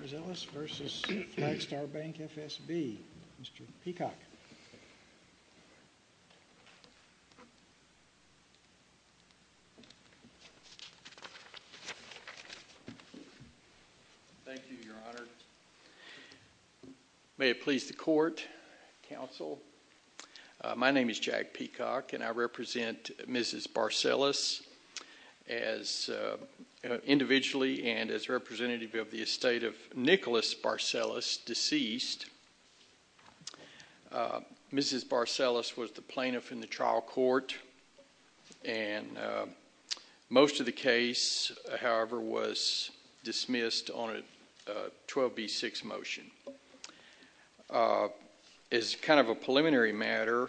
Barzelis v. Flagstar Bank, F.S.B., Mr. Peacock. Thank you, Your Honor. May it please the Court, Counsel. My name is Jack Peacock, and I represent Mrs. Barzelis as individually and as representative of the estate of Nicholas Barzelis, deceased. Mrs. Barzelis was the plaintiff in the trial court, and most of the case, however, was dismissed on a 12b-6 motion. As kind of a preliminary matter,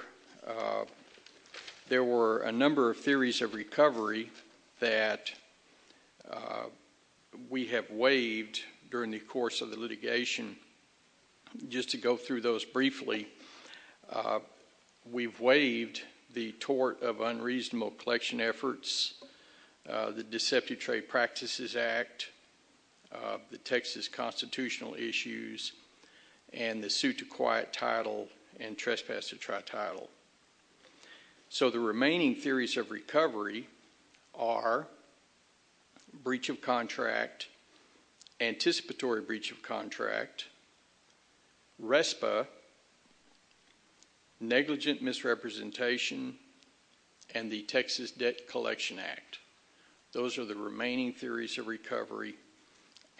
there were a number of theories of recovery that we have waived during the course of the litigation. Just to go through those briefly, we've waived the tort of unreasonable collection efforts, the Deceptive Trade Practices Act, the Texas constitutional issues, and the suit to quiet title and trespass to try title. So the remaining theories of recovery are breach of contract, anticipatory breach of contract, RESPA, negligent misrepresentation, and the Texas Debt Collection Act. Those are the remaining theories of recovery,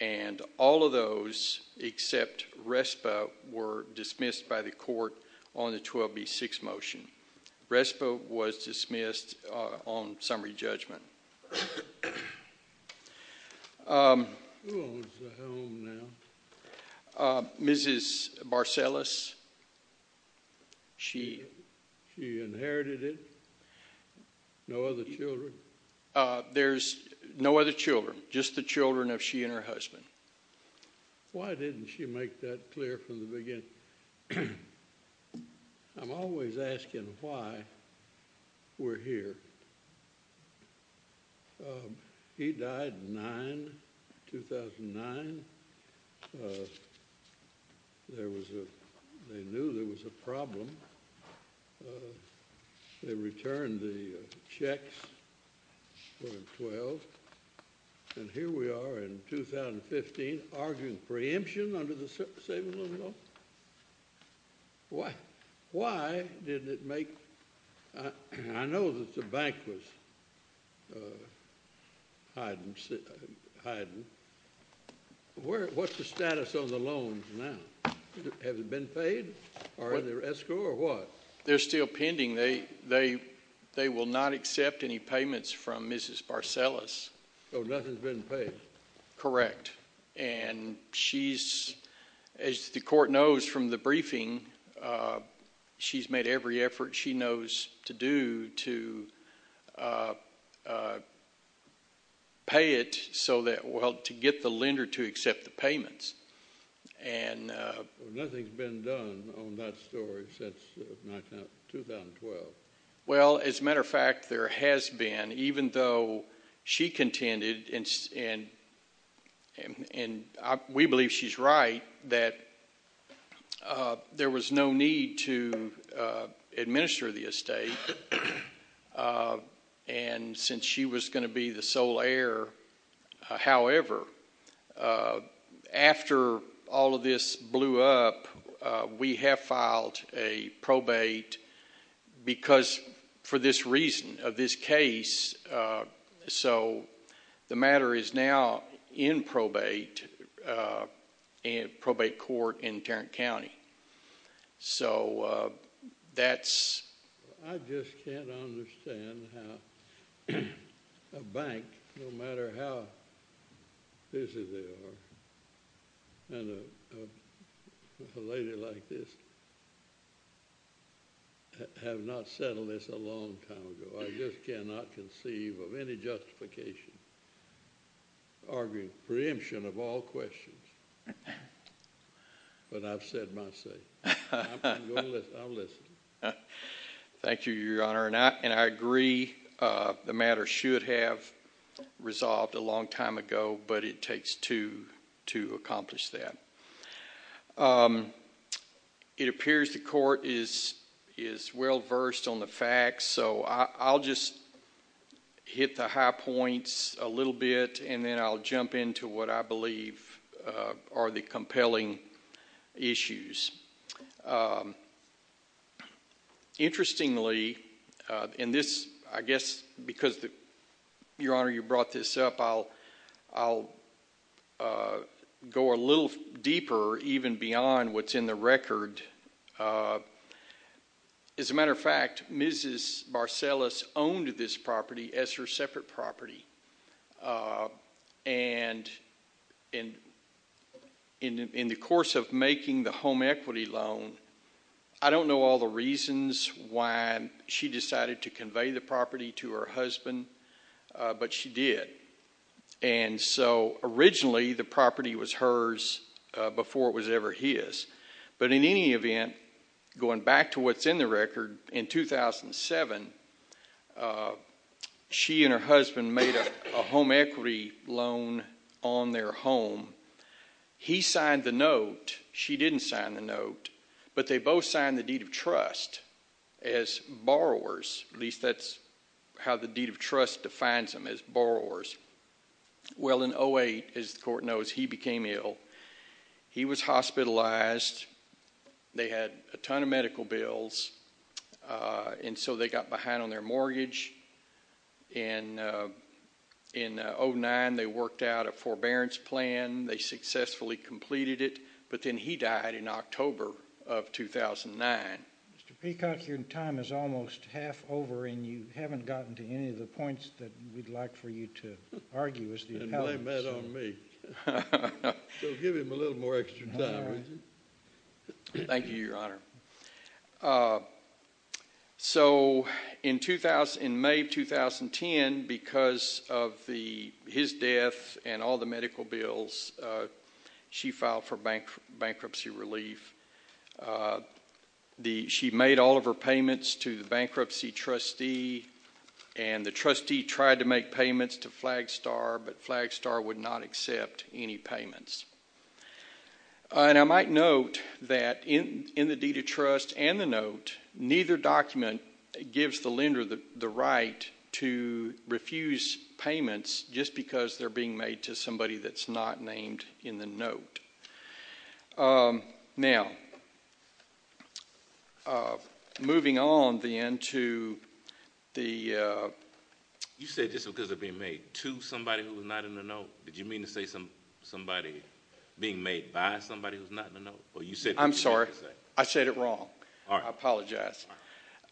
and all of those except RESPA were dismissed by the court on the 12b-6 motion. RESPA was dismissed on summary judgment. Who owns the home now? Mrs. Barzelis. She inherited it? No other children? There's no other children. Just the children of she and her husband. Why didn't she make that clear from the beginning? I'm always asking why we're here. He died in 2009. They knew there was a problem. They returned the checks when he was 12, and here we are in 2015, arguing preemption under the saving loan law. Why didn't it make... I know that the bank was hiding. What's the status of the loans now? Have they been paid? Are they escrowed or what? They're still pending. They will not accept any payments from Mrs. Barzelis. Nothing's been paid? Correct. As the court knows from the briefing, she's made every effort she knows to do to pay it to get the lender to accept the payments. Nothing's been done on that story since 2012. As a matter of fact, there has been, even though she contended, and we believe she's right, that there was no need to administer the estate. Since she was going to be the sole heir, however, after all of this blew up, we have filed a probate because, for this reason of this case, so the matter is now in probate court in Tarrant County. I just can't understand how a bank, no matter how busy they are, and a lady like this, have not settled this a long time ago. I just cannot conceive of any justification arguing preemption of all questions. But I've said my say. I'm going to listen. I'll listen. Thank you, Your Honor. I agree the matter should have resolved a long time ago, but it takes two to accomplish that. It appears the court is well-versed on the facts, so I'll just hit the high points a little bit, and then I'll jump into what I believe are the compelling issues. Interestingly, I guess because, Your Honor, you brought this up, I'll go a little deeper even beyond what's in the record. As a matter of fact, Mrs. Barcellas owned this property as her separate property, and in the course of making the home equity loan, I don't know all the reasons why she decided to convey the property to her husband, but she did. And so originally, the property was hers before it was ever his. In 2007, she and her husband made a home equity loan on their home. He signed the note. She didn't sign the note, but they both signed the deed of trust as borrowers. At least that's how the deed of trust defines them, as borrowers. Well, in 08, as the court knows, he became ill. He was hospitalized. They had a ton of medical bills, and so they got behind on their mortgage. In 09, they worked out a forbearance plan. They successfully completed it, but then he died in October of 2009. Mr. Peacock, your time is almost half over, and you haven't gotten to any of the points that we'd like for you to argue as the appellant. And blame that on me. So give him a little more extra time, would you? Thank you, Your Honor. So in May of 2010, because of his death and all the medical bills, she filed for bankruptcy relief. She made all of her payments to the bankruptcy trustee, and the trustee tried to make payments to Flagstar, but Flagstar would not accept any payments. And I might note that in the deed of trust and the note, neither document gives the lender the right to refuse payments just because they're being made to somebody that's not named in the note. Now, moving on then to the... Did you mean to say somebody being made by somebody who's not in the note? I'm sorry. I said it wrong. I apologize.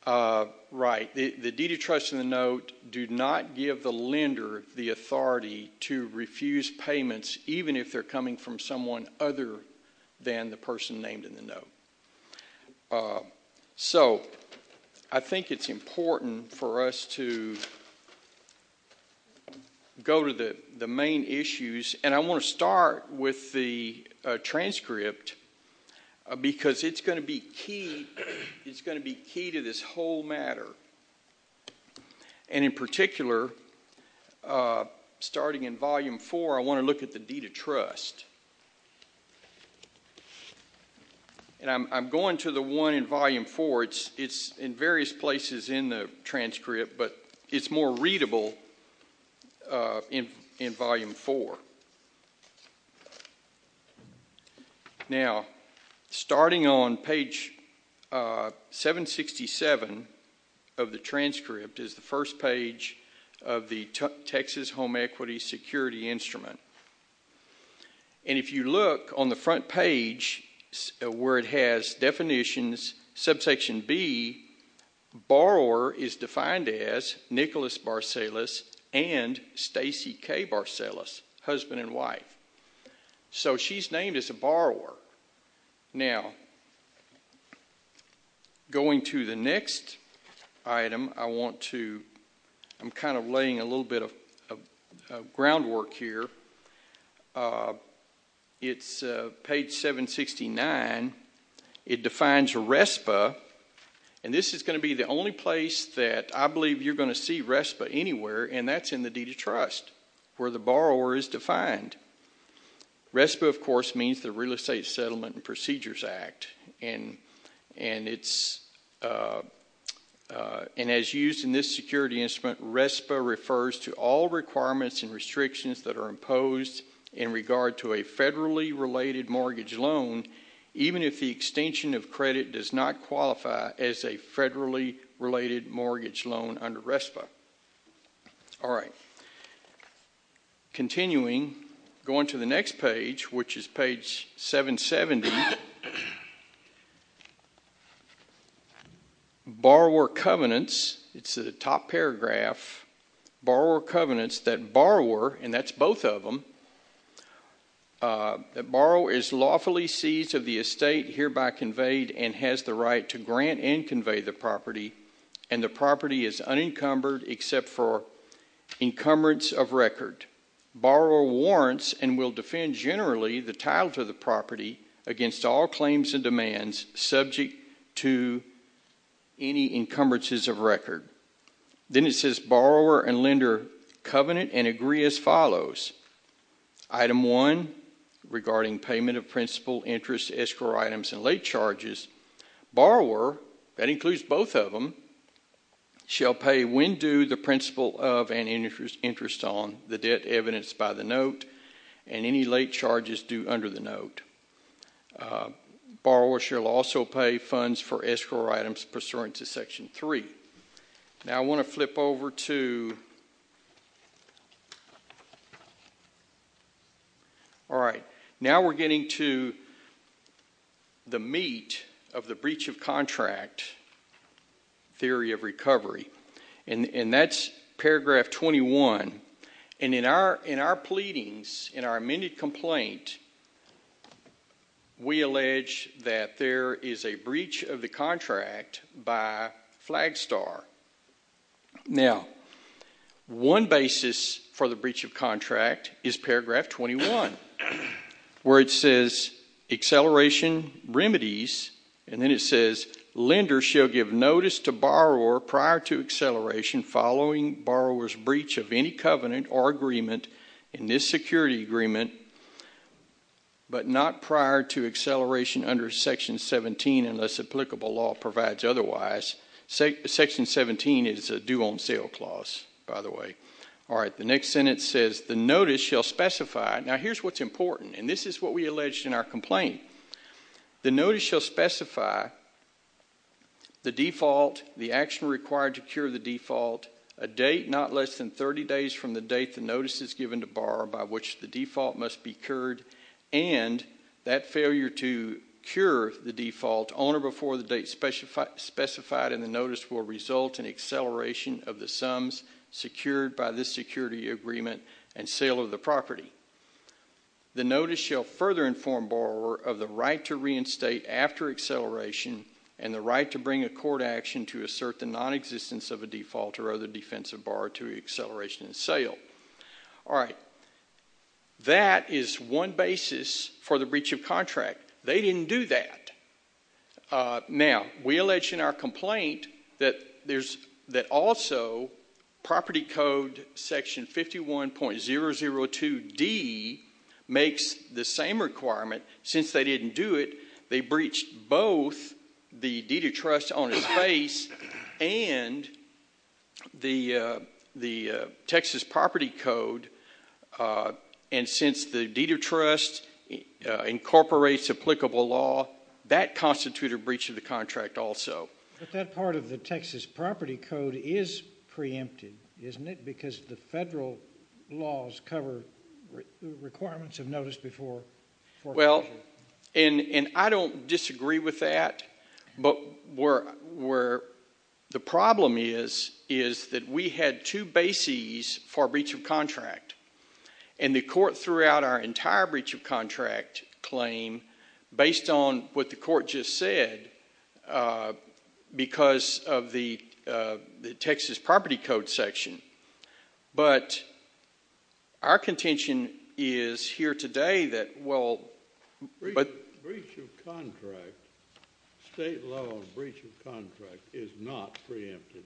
Right. The deed of trust and the note do not give the lender the authority to refuse payments even if they're coming from someone other than the person named in the note. So I think it's important for us to go to the main issues, and I want to start with the transcript because it's going to be key to this whole matter. And in particular, starting in Volume 4, and I'm going to the one in Volume 4. It's in various places in the transcript, but it's more readable in Volume 4. Now, starting on page 767 of the transcript is the first page of the Texas Home Equity Security Instrument. And if you look on the front page where it has definitions, subsection B, borrower is defined as Nicholas Barcellas and Stacy K. Barcellas, husband and wife. So she's named as a borrower. Now, going to the next item, I want to... I'm doing a little bit of groundwork here. It's page 769. It defines RESPA, and this is going to be the only place that I believe you're going to see RESPA anywhere, and that's in the deed of trust where the borrower is defined. RESPA, of course, means the Real Estate Settlement and Procedures Act, and as used in this security instrument, RESPA refers to all requirements and restrictions that are imposed in regard to a federally-related mortgage loan even if the extension of credit does not qualify as a federally-related mortgage loan under RESPA. All right. Continuing, going to the next page, which is page 770, borrower covenants, it's the top paragraph, borrower covenants that borrower, and that's both of them, that borrower is lawfully seized of the estate, hereby conveyed and has the right to grant and convey the property, and the property is unencumbered except for encumbrance of record. Borrower warrants and will defend generally the title to the property against all claims and demands subject to any encumbrances of record. Then it says borrower and lender covenant and agree as follows. Item 1, regarding payment of principal, interest, escrow items, and late charges, borrower, that includes both of them, shall pay when due the principal of and interest on the debt evidenced by the note and any late charges due under the note. Borrower shall also pay funds for escrow items pursuant to Section 3. Now I want to flip over to... All right, now we're getting to the meat of the breach of contract theory of recovery, and that's paragraph 21. And in our pleadings, in our amended complaint, we allege that there is a breach of the contract by Flagstar. Now, one basis for the breach of contract is paragraph 21, where it says acceleration remedies, and then it says lender shall give notice to borrower prior to acceleration following borrower's breach of any covenant or agreement in this security agreement, but not prior to acceleration under Section 17 unless applicable law provides otherwise. Section 17 is a due-on-sale clause, by the way. All right, the next sentence says the notice shall specify... Now, here's what's important, and this is what we alleged in our complaint. The notice shall specify the default, the action required to cure the default, a date not less than 30 days from the date the notice is given to borrower by which the default must be cured, and that failure to cure the default on or before the date specified in the notice will result in acceleration of the sums secured by this security agreement and sale of the property. The notice shall further inform borrower of the right to reinstate after acceleration and the right to bring a court action to assert the nonexistence of a default or other defensive bar to acceleration and sale. All right, that is one basis for the breach of contract. They didn't do that. Now, we alleged in our complaint that also Property Code Section 51.002D makes the same requirement. Since they didn't do it, they breached both the deed of trust on its face and the Texas Property Code, and since the deed of trust incorporates applicable law, that constituted a breach of the contract also. But that part of the Texas Property Code is preempted, isn't it, because the federal laws cover requirements of notice before... Well, and I don't disagree with that, but where the problem is is that we had two bases for breach of contract, and the court threw out our entire breach of contract claim based on what the court just said because of the Texas Property Code section. But our contention is here today that, well... Breach of contract. State law on breach of contract is not preempted,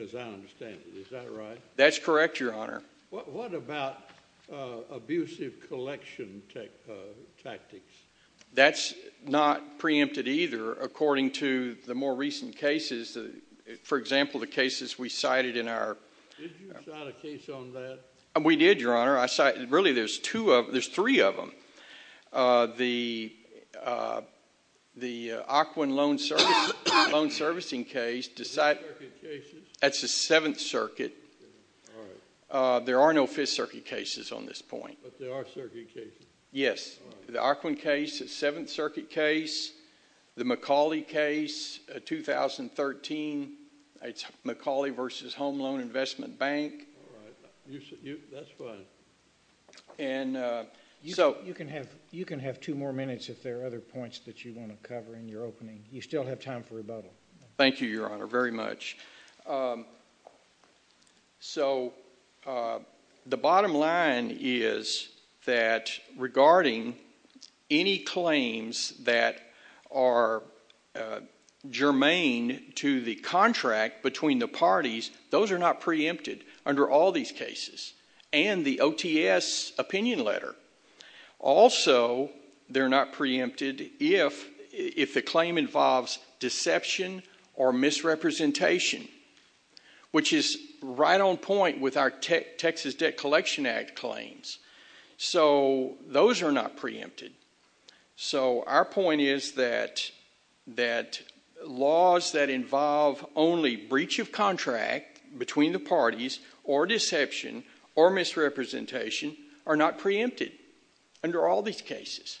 as I understand it. Is that right? That's correct, Your Honor. What about abusive collection tactics? That's not preempted either, according to the more recent cases. For example, the cases we cited in our... Did you cite a case on that? We did, Your Honor. Really, there's three of them. The Occoquan loan servicing case... Fifth Circuit cases? That's the Seventh Circuit. All right. There are no Fifth Circuit cases on this point. But there are Circuit cases? Yes. The Occoquan case, the Seventh Circuit case, the McCauley case, 2013. It's McCauley v. Home Loan Investment Bank. All right. That's fine. You can have two more minutes if there are other points that you want to cover in your opening. You still have time for rebuttal. Thank you, Your Honor, very much. So, the bottom line is that regarding any claims that are germane to the contract between the parties, those are not preempted under all these cases, and the OTS opinion letter. Also, they're not preempted if the claim involves deception or misrepresentation, which is right on point with our Texas Debt Collection Act claims. So, those are not preempted. So, our point is that laws that involve only breach of contract between the parties or deception or misrepresentation are not preempted under all these cases.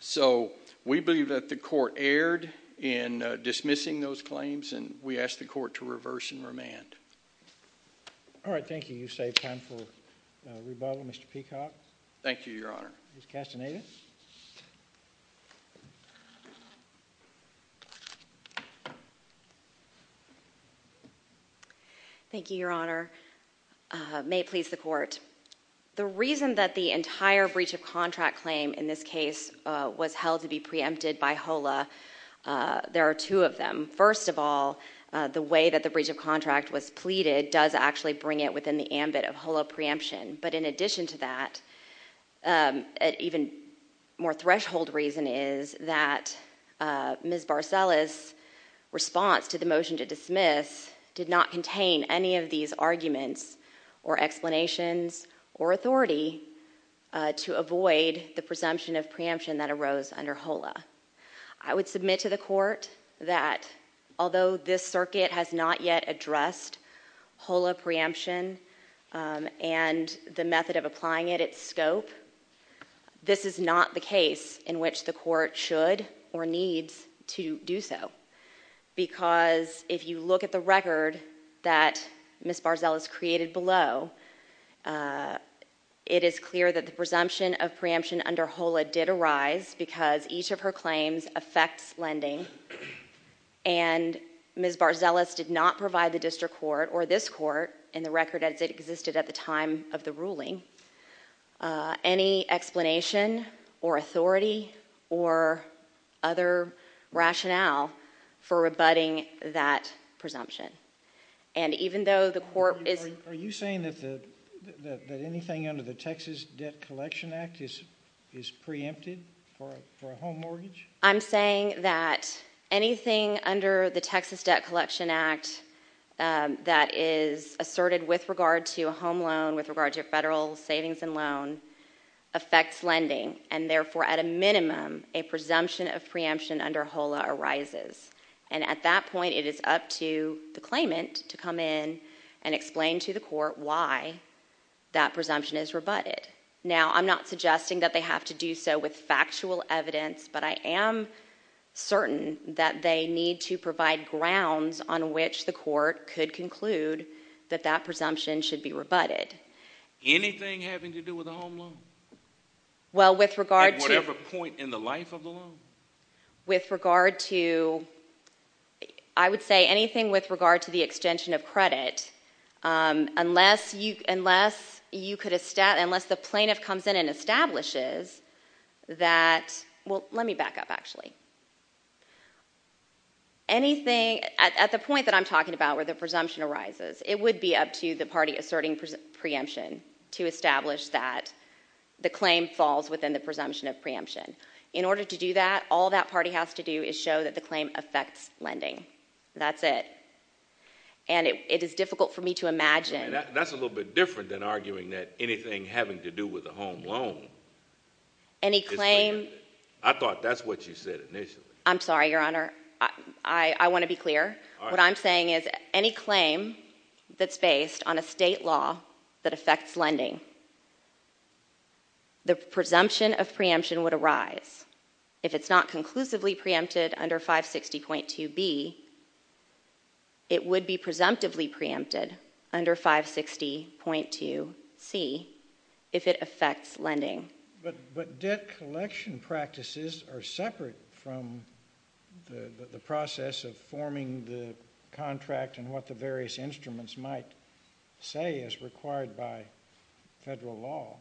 So, we believe that the Court erred in dismissing those claims, and we ask the Court to reverse and remand. All right. Thank you. You've saved time for rebuttal. Mr. Peacock? Thank you, Your Honor. Ms. Castaneda? Thank you, Your Honor. May it please the Court. The reason that the entire breach of contract claim in this case was held to be preempted by HOLA, there are two of them. First of all, the way that the breach of contract was pleaded does actually bring it within the ambit of HOLA preemption. But in addition to that, an even more threshold reason is that Ms. Barcelles' response to the motion to dismiss did not contain any of these arguments or explanations or authority to avoid the presumption of preemption that arose under HOLA. I would submit to the Court that although this circuit has not yet addressed HOLA preemption and the method of applying it, its scope, this is not the case in which the Court should or needs to do so. Because if you look at the record that Ms. Barcelles created below, it is clear that the presumption of preemption under HOLA did arise because each of her claims affects lending, and Ms. Barcelles did not provide the district court or this court in the record as it existed at the time of the ruling any explanation or authority or other rationale for rebutting that presumption. And even though the Court is... Are you saying that anything under the Texas Debt Collection Act is preempted for a home mortgage? I'm saying that anything under the Texas Debt Collection Act that is asserted with regard to a home loan, with regard to a federal savings and loan, affects lending, and therefore, at a minimum, a presumption of preemption under HOLA arises. And at that point, it is up to the claimant to come in and explain to the Court why that presumption is rebutted. Now, I'm not suggesting that they have to do so with factual evidence, but I am certain that they need to provide grounds on which the Court could conclude that that presumption should be rebutted. Anything having to do with a home loan? Well, with regard to... At whatever point in the life of the loan? With regard to... I would say anything with regard to the extension of credit, unless the plaintiff comes in and establishes that... Well, let me back up, actually. Anything... At the point that I'm talking about where the presumption arises, it would be up to the party asserting preemption to establish that the claim falls within the presumption of preemption. In order to do that, all that party has to do is show that the claim affects lending. That's it. And it is difficult for me to imagine... That's a little bit different than arguing that anything having to do with a home loan... Any claim... I thought that's what you said initially. I'm sorry, Your Honor. I want to be clear. What I'm saying is any claim that's based on a state law that affects lending, the presumption of preemption would arise. If it's not conclusively preempted under 560.2b, it would be presumptively preempted under 560.2c if it affects lending. But debt collection practices are separate from the process of forming the contract and what the various instruments might say as required by federal law.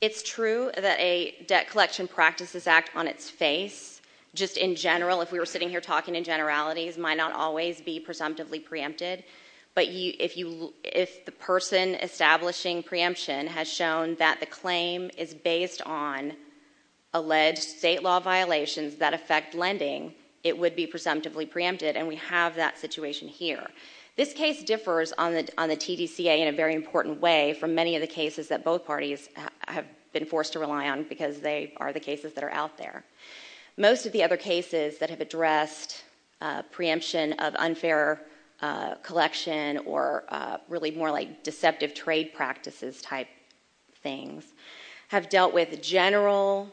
It's true that a debt collection practices act on its face. Just in general, if we were sitting here talking in generalities, it might not always be presumptively preempted. But if the person establishing preemption has shown that the claim is based on alleged state law violations that affect lending, it would be presumptively preempted, and we have that situation here. This case differs on the TDCA in a very important way from many of the cases that both parties have been forced to rely on because they are the cases that are out there. Most of the other cases that have addressed preemption of unfair collection or really more like deceptive trade practices type things have dealt with general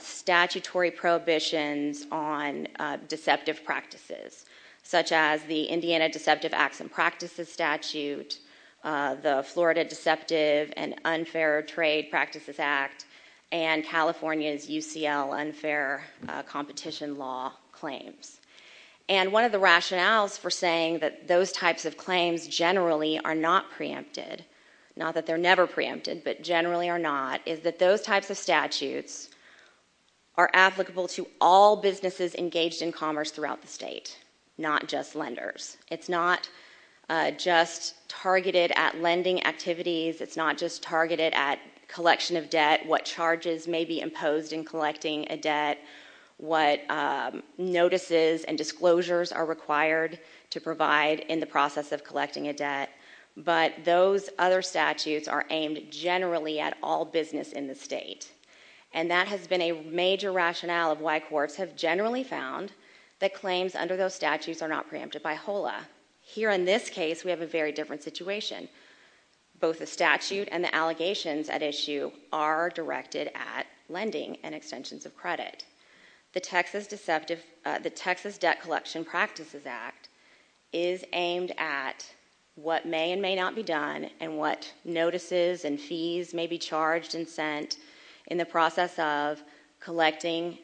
statutory prohibitions on deceptive practices, such as the Indiana Deceptive Acts and Practices Statute, the Florida Deceptive and Unfair Trade Practices Act, and California's UCL unfair competition law claims. And one of the rationales for saying that those types of claims generally are not preempted, not that they're never preempted, but generally are not, is that those types of statutes are applicable to all businesses engaged in commerce throughout the state, not just lenders. It's not just targeted at lending activities. It's not just targeted at collection of debt, what charges may be imposed in collecting a debt, what notices and disclosures are required to provide in the process of collecting a debt, but those other statutes are aimed generally at all business in the state. And that has been a major rationale of why courts have generally found that claims under those statutes are not preempted by HOLA. Here in this case, we have a very different situation. Both the statute and the allegations at issue are directed at lending and extensions of credit. The Texas Debt Collection Practices Act is aimed at what may and may not be done and what notices and fees may be charged and sent in the process of collecting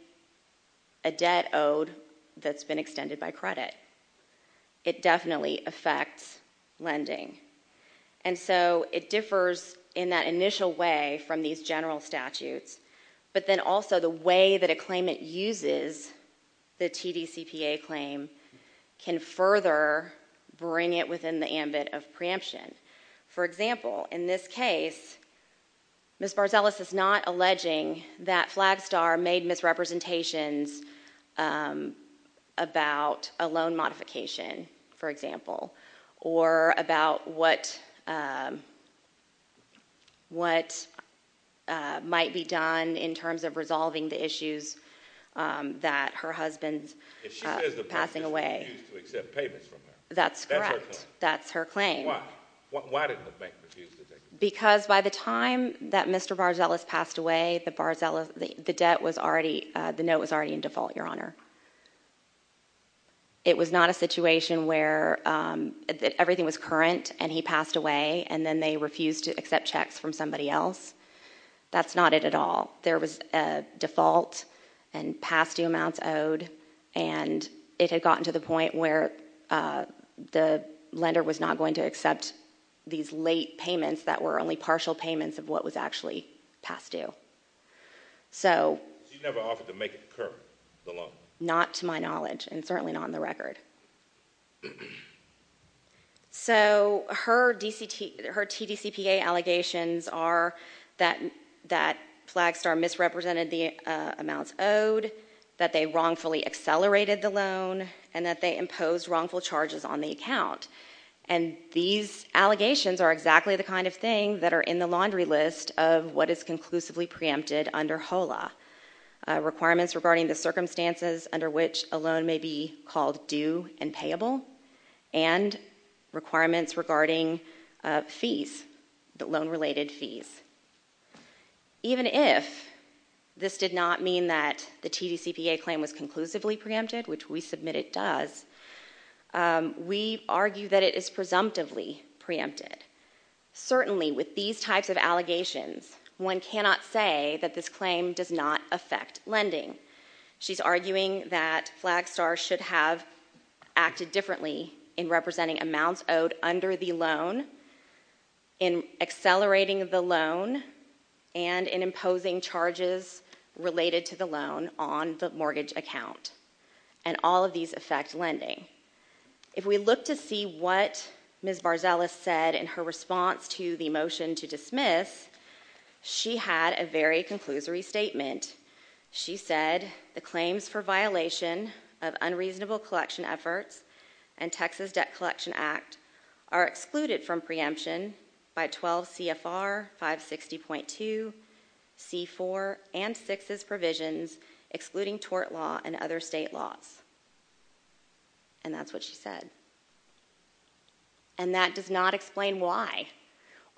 a debt owed that's been extended by credit. It definitely affects lending. And so it differs in that initial way from these general statutes, but then also the way that a claimant uses the TDCPA claim can further bring it within the ambit of preemption. For example, in this case, Ms. Barzelas is not alleging that Flagstar made misrepresentations about a loan modification, for example, or about what might be done in terms of resolving the issues that her husband's passing away. If she says the bank refused to accept payments from her, that's her claim? That's correct. That's her claim. Why didn't the bank refuse to take the payments? Because by the time that Mr. Barzelas passed away, the note was already in default, Your Honor. It was not a situation where everything was current and he passed away, and then they refused to accept checks from somebody else. That's not it at all. There was a default and past due amounts owed, and it had gotten to the point where the lender was not going to accept these late payments that were only partial payments of what was actually past due. So she never offered to make it current, the loan? Not to my knowledge, and certainly not on the record. So her TDCPA allegations are that Flagstar misrepresented the amounts owed, that they wrongfully accelerated the loan, and that they imposed wrongful charges on the account. And these allegations are exactly the kind of thing that are in the laundry list of what is conclusively preempted under HOLA. Requirements regarding the circumstances under which a loan may be called due and payable, and requirements regarding fees, loan-related fees. Even if this did not mean that the TDCPA claim was conclusively preempted, which we submit it does, we argue that it is presumptively preempted. Certainly, with these types of allegations, one cannot say that this claim does not affect lending. She's arguing that Flagstar should have acted differently in representing amounts owed under the loan, in accelerating the loan, and in imposing charges related to the loan on the mortgage account. And all of these affect lending. If we look to see what Ms. Barzelas said in her response to the motion to dismiss, she had a very conclusory statement. She said the claims for violation of unreasonable collection efforts and Texas Debt Collection Act are excluded from preemption by 12 CFR 560.2, C-4, and 6's provisions, excluding tort law and other state laws. And that's what she said. And that does not explain why.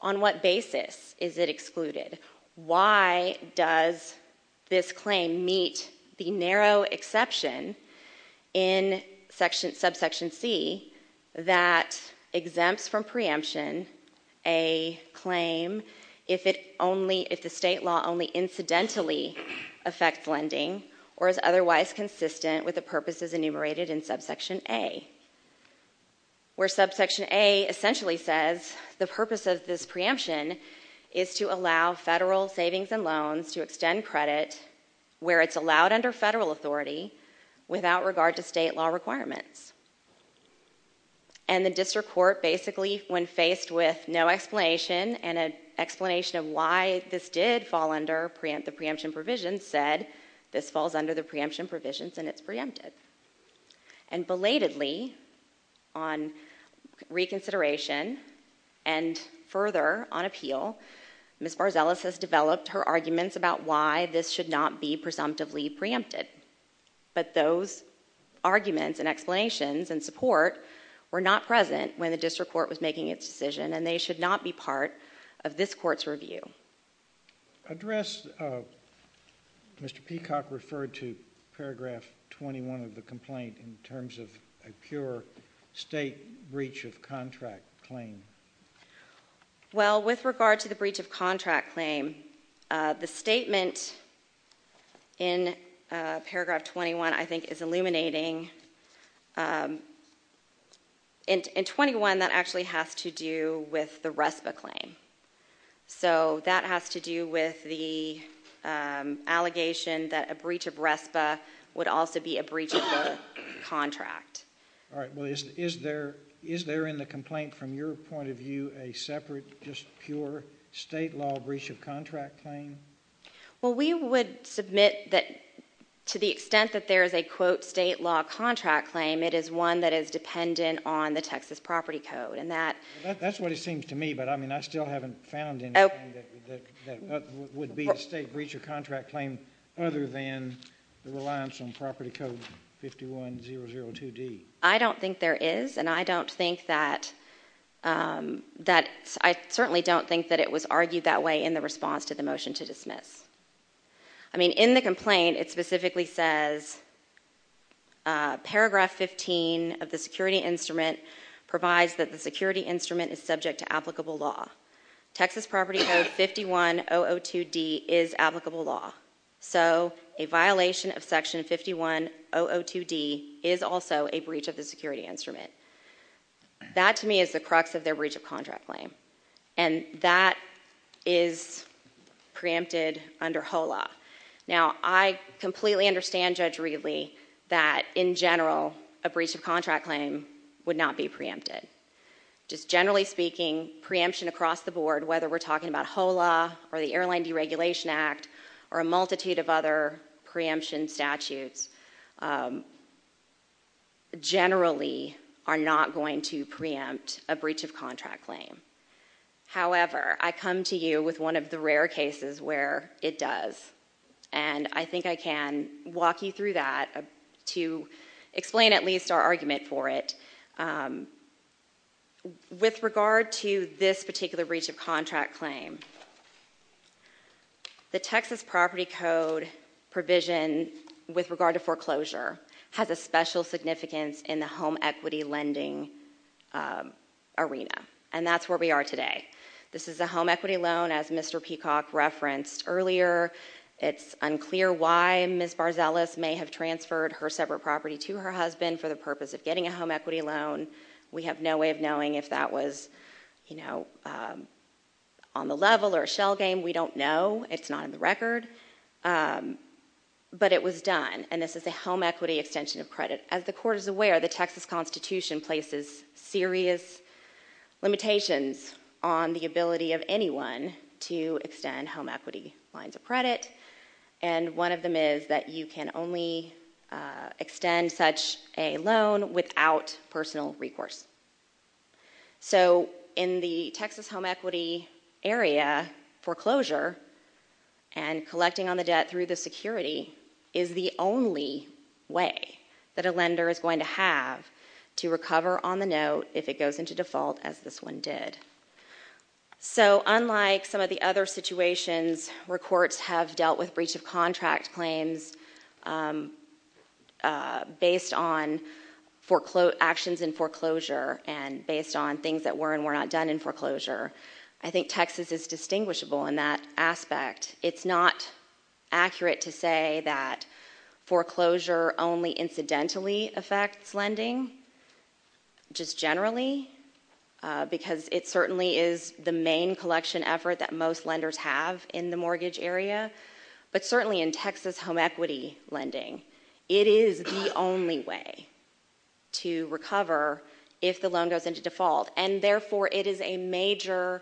On what basis is it excluded? Why does this claim meet the narrow exception in Subsection C that exempts from preemption a claim if the state law only incidentally affects lending or is otherwise consistent with the purposes enumerated in Subsection A, where Subsection A essentially says the purpose of this preemption is to allow federal savings and loans to extend credit where it's allowed under federal authority without regard to state law requirements. And the district court basically, when faced with no explanation and an explanation of why this did fall under the preemption provisions, said this falls under the preemption provisions and it's preempted. And belatedly, on reconsideration and further on appeal, Ms. Barzelas has developed her arguments about why this should not be presumptively preempted. But those arguments and explanations and support were not present when the district court was making its decision, and they should not be part of this court's review. Address Mr. Peacock referred to paragraph 21 of the complaint in terms of a pure state breach of contract claim. Well, with regard to the breach of contract claim, the statement in paragraph 21, I think, is illuminating... In 21, that actually has to do with the RESPA claim. So that has to do with the allegation that a breach of RESPA would also be a breach of the contract. All right, well, is there in the complaint, from your point of view, a separate, just pure state law breach of contract claim? Well, we would submit that to the extent that there is a, quote, state law contract claim, it is one that is dependent on the Texas property code, and that... That's what it seems to me, but, I mean, I still haven't found anything that would be a state breach of contract claim other than the reliance on property code 51002D. I don't think there is, and I don't think that... I certainly don't think that it was argued that way in the response to the motion to dismiss. I mean, in the complaint, it specifically says, paragraph 15 of the security instrument provides that the security instrument is subject to applicable law. Texas property code 51002D is applicable law. So a violation of section 51002D is also a breach of the security instrument. That, to me, is the crux of their breach of contract claim. And that is preempted under HOLA. Now, I completely understand, Judge Reedley, that, in general, a breach of contract claim would not be preempted. Just generally speaking, preemption across the board, whether we're talking about HOLA or the Airline Deregulation Act or a multitude of other preemption statutes, generally are not going to preempt a breach of contract claim. However, I come to you with one of the rare cases where it does, and I think I can walk you through that to explain at least our argument for it. With regard to this particular breach of contract claim, the Texas property code provision with regard to foreclosure has a special significance in the home equity lending arena. And that's where we are today. This is a home equity loan, as Mr. Peacock referenced earlier. It's unclear why Ms. Barzelas may have transferred her separate property to her husband for the purpose of getting a home equity loan. We have no way of knowing if that was, you know, on the level or a shell game. We don't know. It's not in the record. But it was done, and this is a home equity extension of credit. As the Court is aware, the Texas Constitution places serious limitations on the ability of anyone to extend home equity lines of credit, and one of them is that you can only extend such a loan without personal recourse. So in the Texas home equity area, foreclosure and collecting on the debt through the security is the only way that a lender is going to have to recover on the note if it goes into default, as this one did. So unlike some of the other situations where courts have dealt with breach of contract claims based on actions in foreclosure and based on things that were and were not done in foreclosure, I think Texas is distinguishable in that aspect. It's not accurate to say that foreclosure only incidentally affects lending, just generally, because it certainly is the main collection effort that most lenders have in the mortgage area. But certainly in Texas home equity lending, it is the only way to recover if the loan goes into default, and therefore it is a major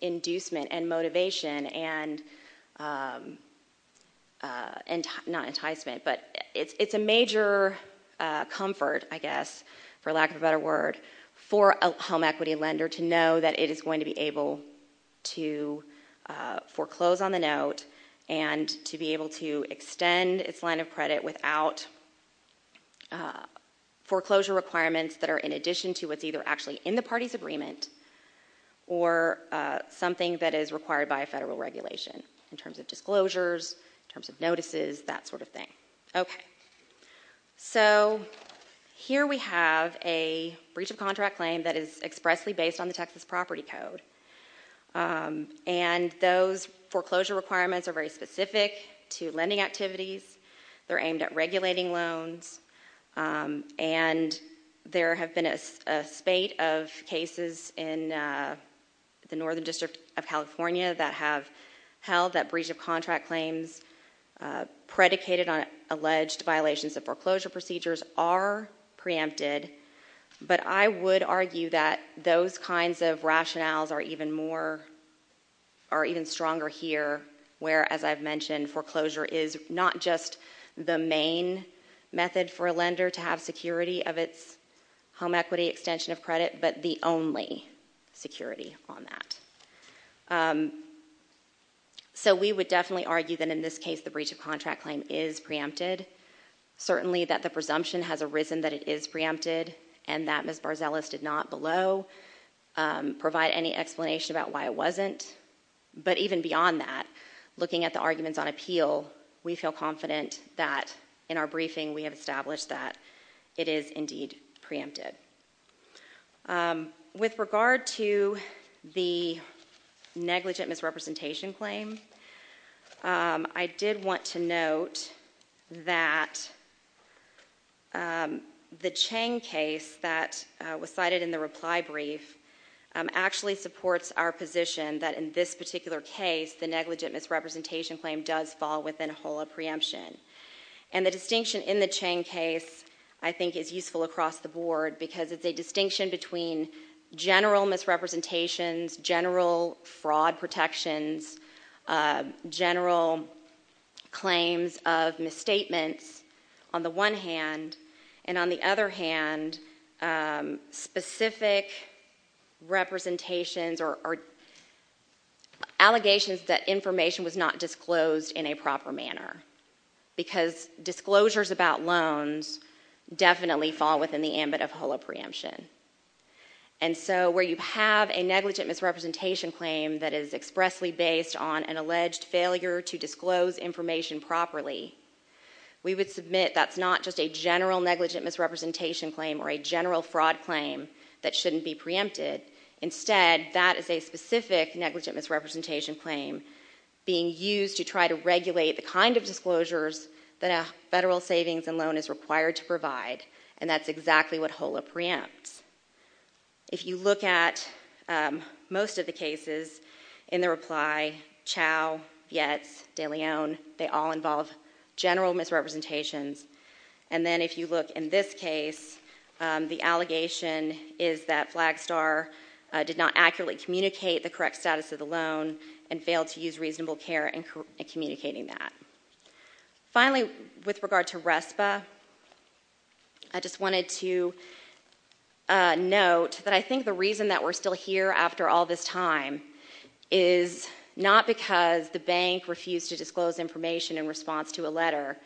inducement and motivation and not enticement, but it's a major comfort, I guess, for lack of a better word, for a home equity lender to know that it is going to be able to foreclose on the note and to be able to extend its line of credit without foreclosure requirements that are in addition to what's either actually in the party's agreement or something that is required by a federal regulation in terms of disclosures, in terms of notices, that sort of thing. Okay. So here we have a breach of contract claim that is expressly based on the Texas Property Code, and those foreclosure requirements are very specific to lending activities. They're aimed at regulating loans, and there have been a spate of cases in the Northern District of California that have held that breach of contract claims predicated on alleged violations of foreclosure procedures are preempted, but I would argue that those kinds of rationales are even stronger here, where, as I've mentioned, foreclosure is not just the main method for a lender to have security of its home equity extension of credit, but the only security on that. So we would definitely argue that in this case the breach of contract claim is preempted, certainly that the presumption has arisen that it is preempted and that Ms. Barzelas did not below provide any explanation about why it wasn't, but even beyond that, looking at the arguments on appeal, we feel confident that in our briefing we have established that it is indeed preempted. With regard to the negligent misrepresentation claim, I did want to note that the Chang case that was cited in the reply brief actually supports our position that in this particular case the negligent misrepresentation claim does fall within a whole of preemption. And the distinction in the Chang case I think is useful across the board because it's a distinction between general misrepresentations, general fraud protections, general claims of misstatements, on the one hand, and on the other hand, specific representations or allegations that information was not disclosed in a proper manner because disclosures about loans definitely fall within the ambit of whole of preemption. And so where you have a negligent misrepresentation claim that is expressly based on an alleged failure to disclose information properly, we would submit that's not just a general negligent misrepresentation claim or a general fraud claim that shouldn't be preempted. Instead, that is a specific negligent misrepresentation claim being used to try to regulate the kind of disclosures that a federal savings and loan is required to provide, and that's exactly what whole of preempts. If you look at most of the cases in the reply, Chao, Vietz, de Leon, they all involve general misrepresentations. And then if you look in this case, the allegation is that Flagstar did not accurately communicate the correct status of the loan and failed to use reasonable care in communicating that. Finally, with regard to RESPA, I just wanted to note that I think the reason that we're still here after all this time is not because the bank refused to disclose information in response to a letter,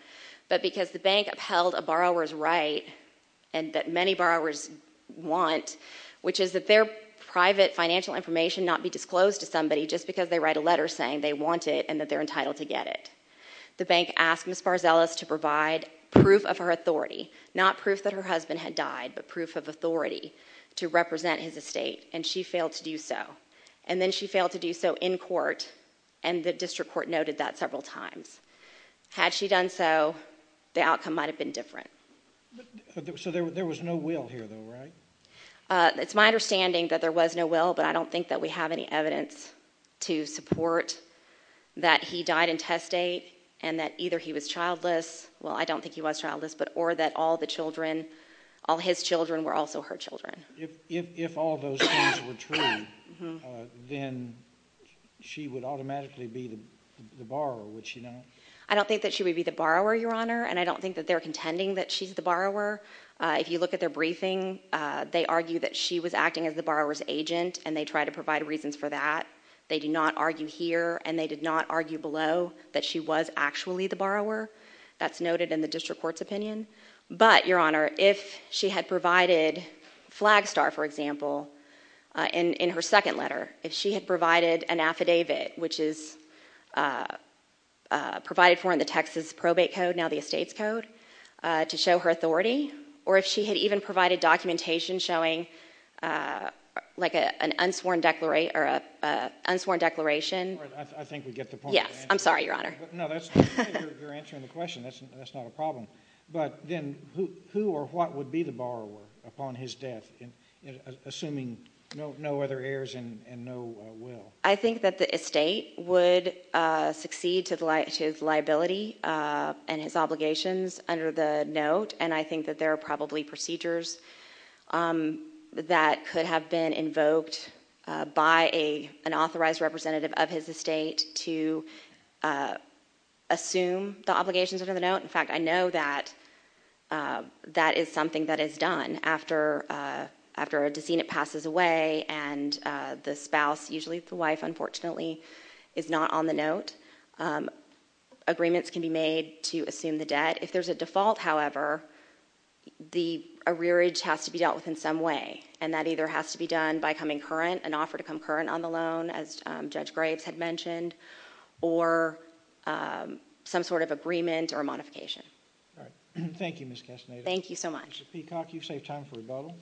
but because the bank upheld a borrower's right and that many borrowers want, which is that their private financial information not be disclosed to somebody just because they write a letter saying they want it and that they're entitled to get it. The bank asked Ms. Barzelas to provide proof of her authority, not proof that her husband had died, but proof of authority to represent his estate, and she failed to do so. And then she failed to do so in court, and the district court noted that several times. Had she done so, the outcome might have been different. So there was no will here, though, right? It's my understanding that there was no will, but I don't think that we have any evidence to support that he died in test date and that either he was childless, well, I don't think he was childless, or that all his children were also her children. If all those things were true, then she would automatically be the borrower, would she not? I don't think that she would be the borrower, Your Honor, and I don't think that they're contending that she's the borrower. If you look at their briefing, they argue that she was acting as the borrower's agent and they try to provide reasons for that. They do not argue here, and they did not argue below that she was actually the borrower. That's noted in the district court's opinion. But, Your Honor, if she had provided Flagstar, for example, in her second letter, if she had provided an affidavit, which is provided for in the Texas Probate Code, now the Estates Code, to show her authority, or if she had even provided documentation showing, like, an unsworn declaration... I think we get the point. Yes. I'm sorry, Your Honor. No, you're answering the question. That's not a problem. But then who or what would be the borrower upon his death, assuming no other heirs and no will? I think that the estate would succeed to his liability and his obligations under the note, and I think that there are probably procedures that could have been invoked by an authorized representative of his estate to assume the obligations under the note. In fact, I know that that is something that is done after a decedent passes away and the spouse, usually the wife, unfortunately, is not on the note. Agreements can be made to assume the debt. If there's a default, however, the arrearage has to be dealt with in some way, and that either has to be done by coming current, an offer to come current on the loan, as Judge Graves had mentioned, or some sort of agreement or modification. All right. Thank you, Ms. Castaneda. Thank you so much. Mr. Peacock, you've saved time for rebuttal.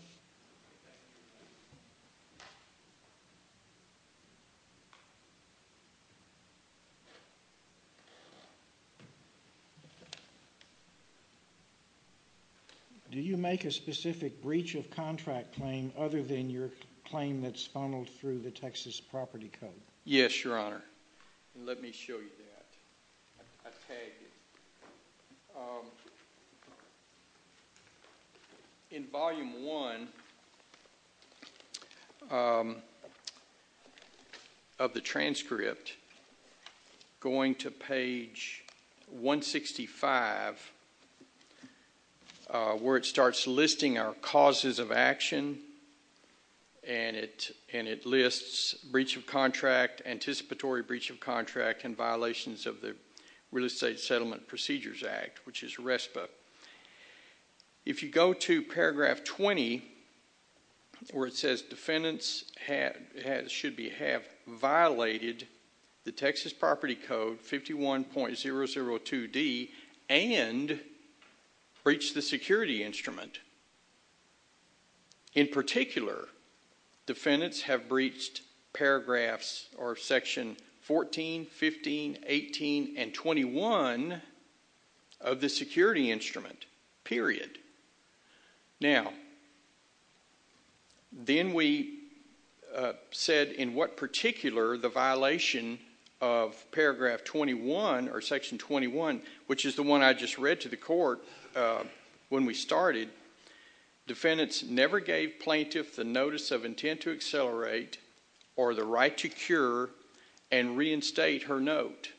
Do you make a specific breach of contract claim other than your claim that's funneled through the Texas Property Code? Yes, Your Honor, and let me show you that. I tagged it. In Volume 1 of the transcript, going to page 165, where it starts listing our causes of action, and it lists breach of contract, anticipatory breach of contract, and violations of the Real Estate Settlement Procedures Act, which is RESPA. If you go to paragraph 20, where it says defendants should have violated the Texas Property Code 51.002d and breached the security instrument. In particular, defendants have breached paragraphs or section 14, 15, 18, and 21 of the security instrument, period. Now, then we said in what particular the violation of paragraph 21 or section 21, which is the one I just read to the court when we started, defendants never gave plaintiff the notice of intent to accelerate or the right to cure and reinstate her note.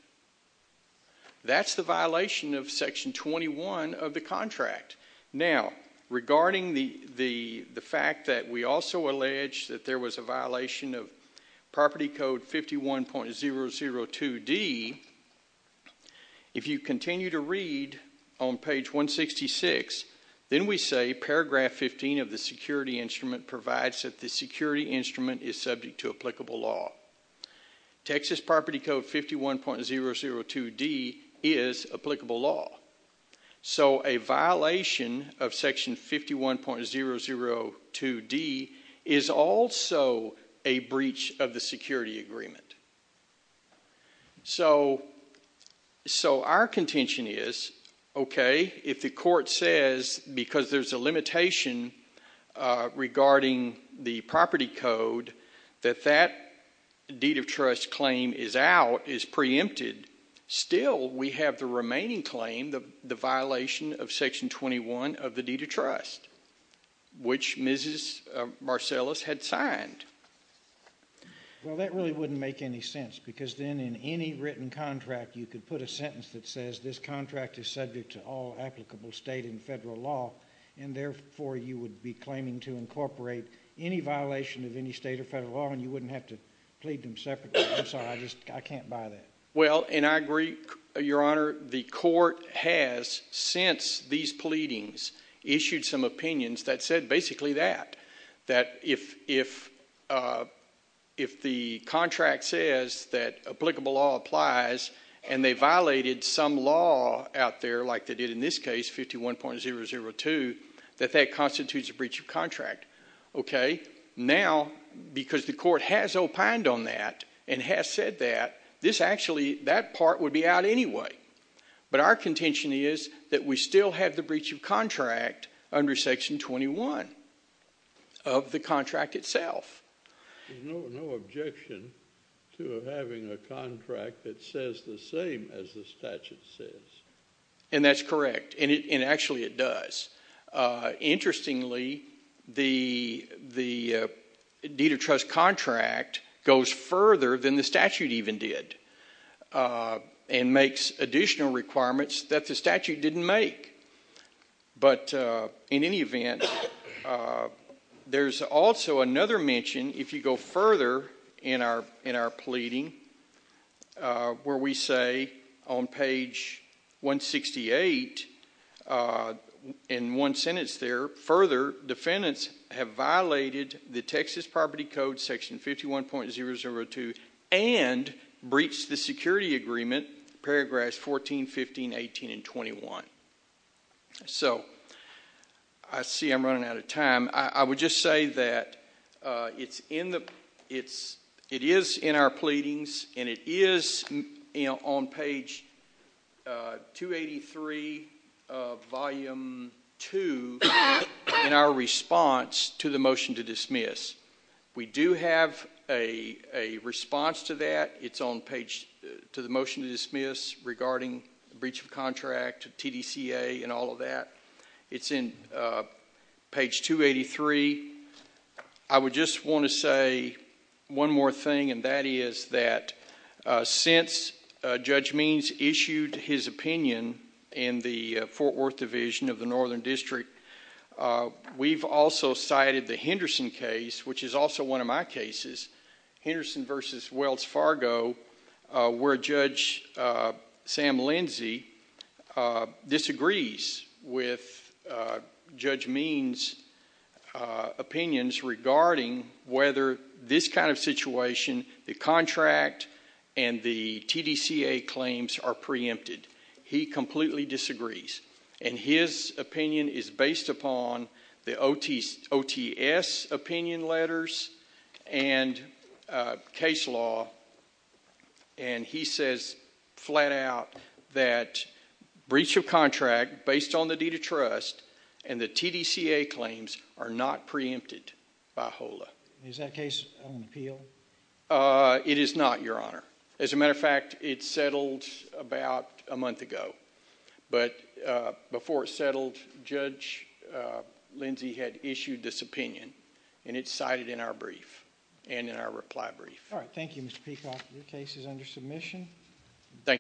That's the violation of section 21 of the contract. Now, regarding the fact that we also allege that there was a violation of property code 51.002d, if you continue to read on page 166, then we say paragraph 15 of the security instrument provides that the security instrument is subject to applicable law. Texas Property Code 51.002d is applicable law. So a violation of section 51.002d is also a breach of the security agreement. So our contention is, okay, if the court says, because there's a limitation regarding the property code, that that deed of trust claim is out, is preempted, still we have the remaining claim, the violation of section 21 of the deed of trust, which Mrs. Marcellus had signed. Well, that really wouldn't make any sense because then in any written contract you could put a sentence that says this contract is subject to all applicable state and federal law, and therefore you would be claiming to incorporate any violation of any state or federal law and you wouldn't have to plead them separately. I'm sorry, I can't buy that. Well, and I agree, Your Honor. The court has, since these pleadings, issued some opinions that said basically that, that if the contract says that applicable law applies and they violated some law out there, like they did in this case, 51.002, that that constitutes a breach of contract. Okay? Now, because the court has opined on that and has said that, this actually, that part would be out anyway. But our contention is that we still have the breach of contract under section 21 of the contract itself. There's no objection to having a contract that says the same as the statute says. And that's correct, and actually it does. Interestingly, the deed of trust contract goes further than the statute even did and makes additional requirements that the statute didn't make. But in any event, there's also another mention, if you go further in our pleading, where we say on page 168, in one sentence there, further, defendants have violated the Texas Property Code, section 51.002, and breached the security agreement, paragraphs 14, 15, 18, and 21. So, I see I'm running out of time. I would just say that it is in our pleadings, and it is on page 283 of volume 2 in our response to the motion to dismiss. We do have a response to that. It's on page, to the motion to dismiss, regarding breach of contract, TDCA, and all of that. It's in page 283. I would just want to say one more thing, and that is that since Judge Means issued his opinion in the Fort Worth Division of the Northern District, we've also cited the Henderson case, which is also one of my cases. Henderson versus Wells Fargo, where Judge Sam Lindsey disagrees with Judge Means' opinions regarding whether this kind of situation, the contract and the TDCA claims are preempted. He completely disagrees, and his opinion is based upon the OTS opinion letters and case law, and he says flat out that breach of contract based on the deed of trust and the TDCA claims are not preempted by HOLA. Is that case on appeal? It is not, Your Honor. As a matter of fact, it settled about a month ago, but before it settled, Judge Lindsey had issued this opinion, and it's cited in our brief and in our reply brief. All right. Thank you, Mr. Peacock. Your case is under submission. Thank you.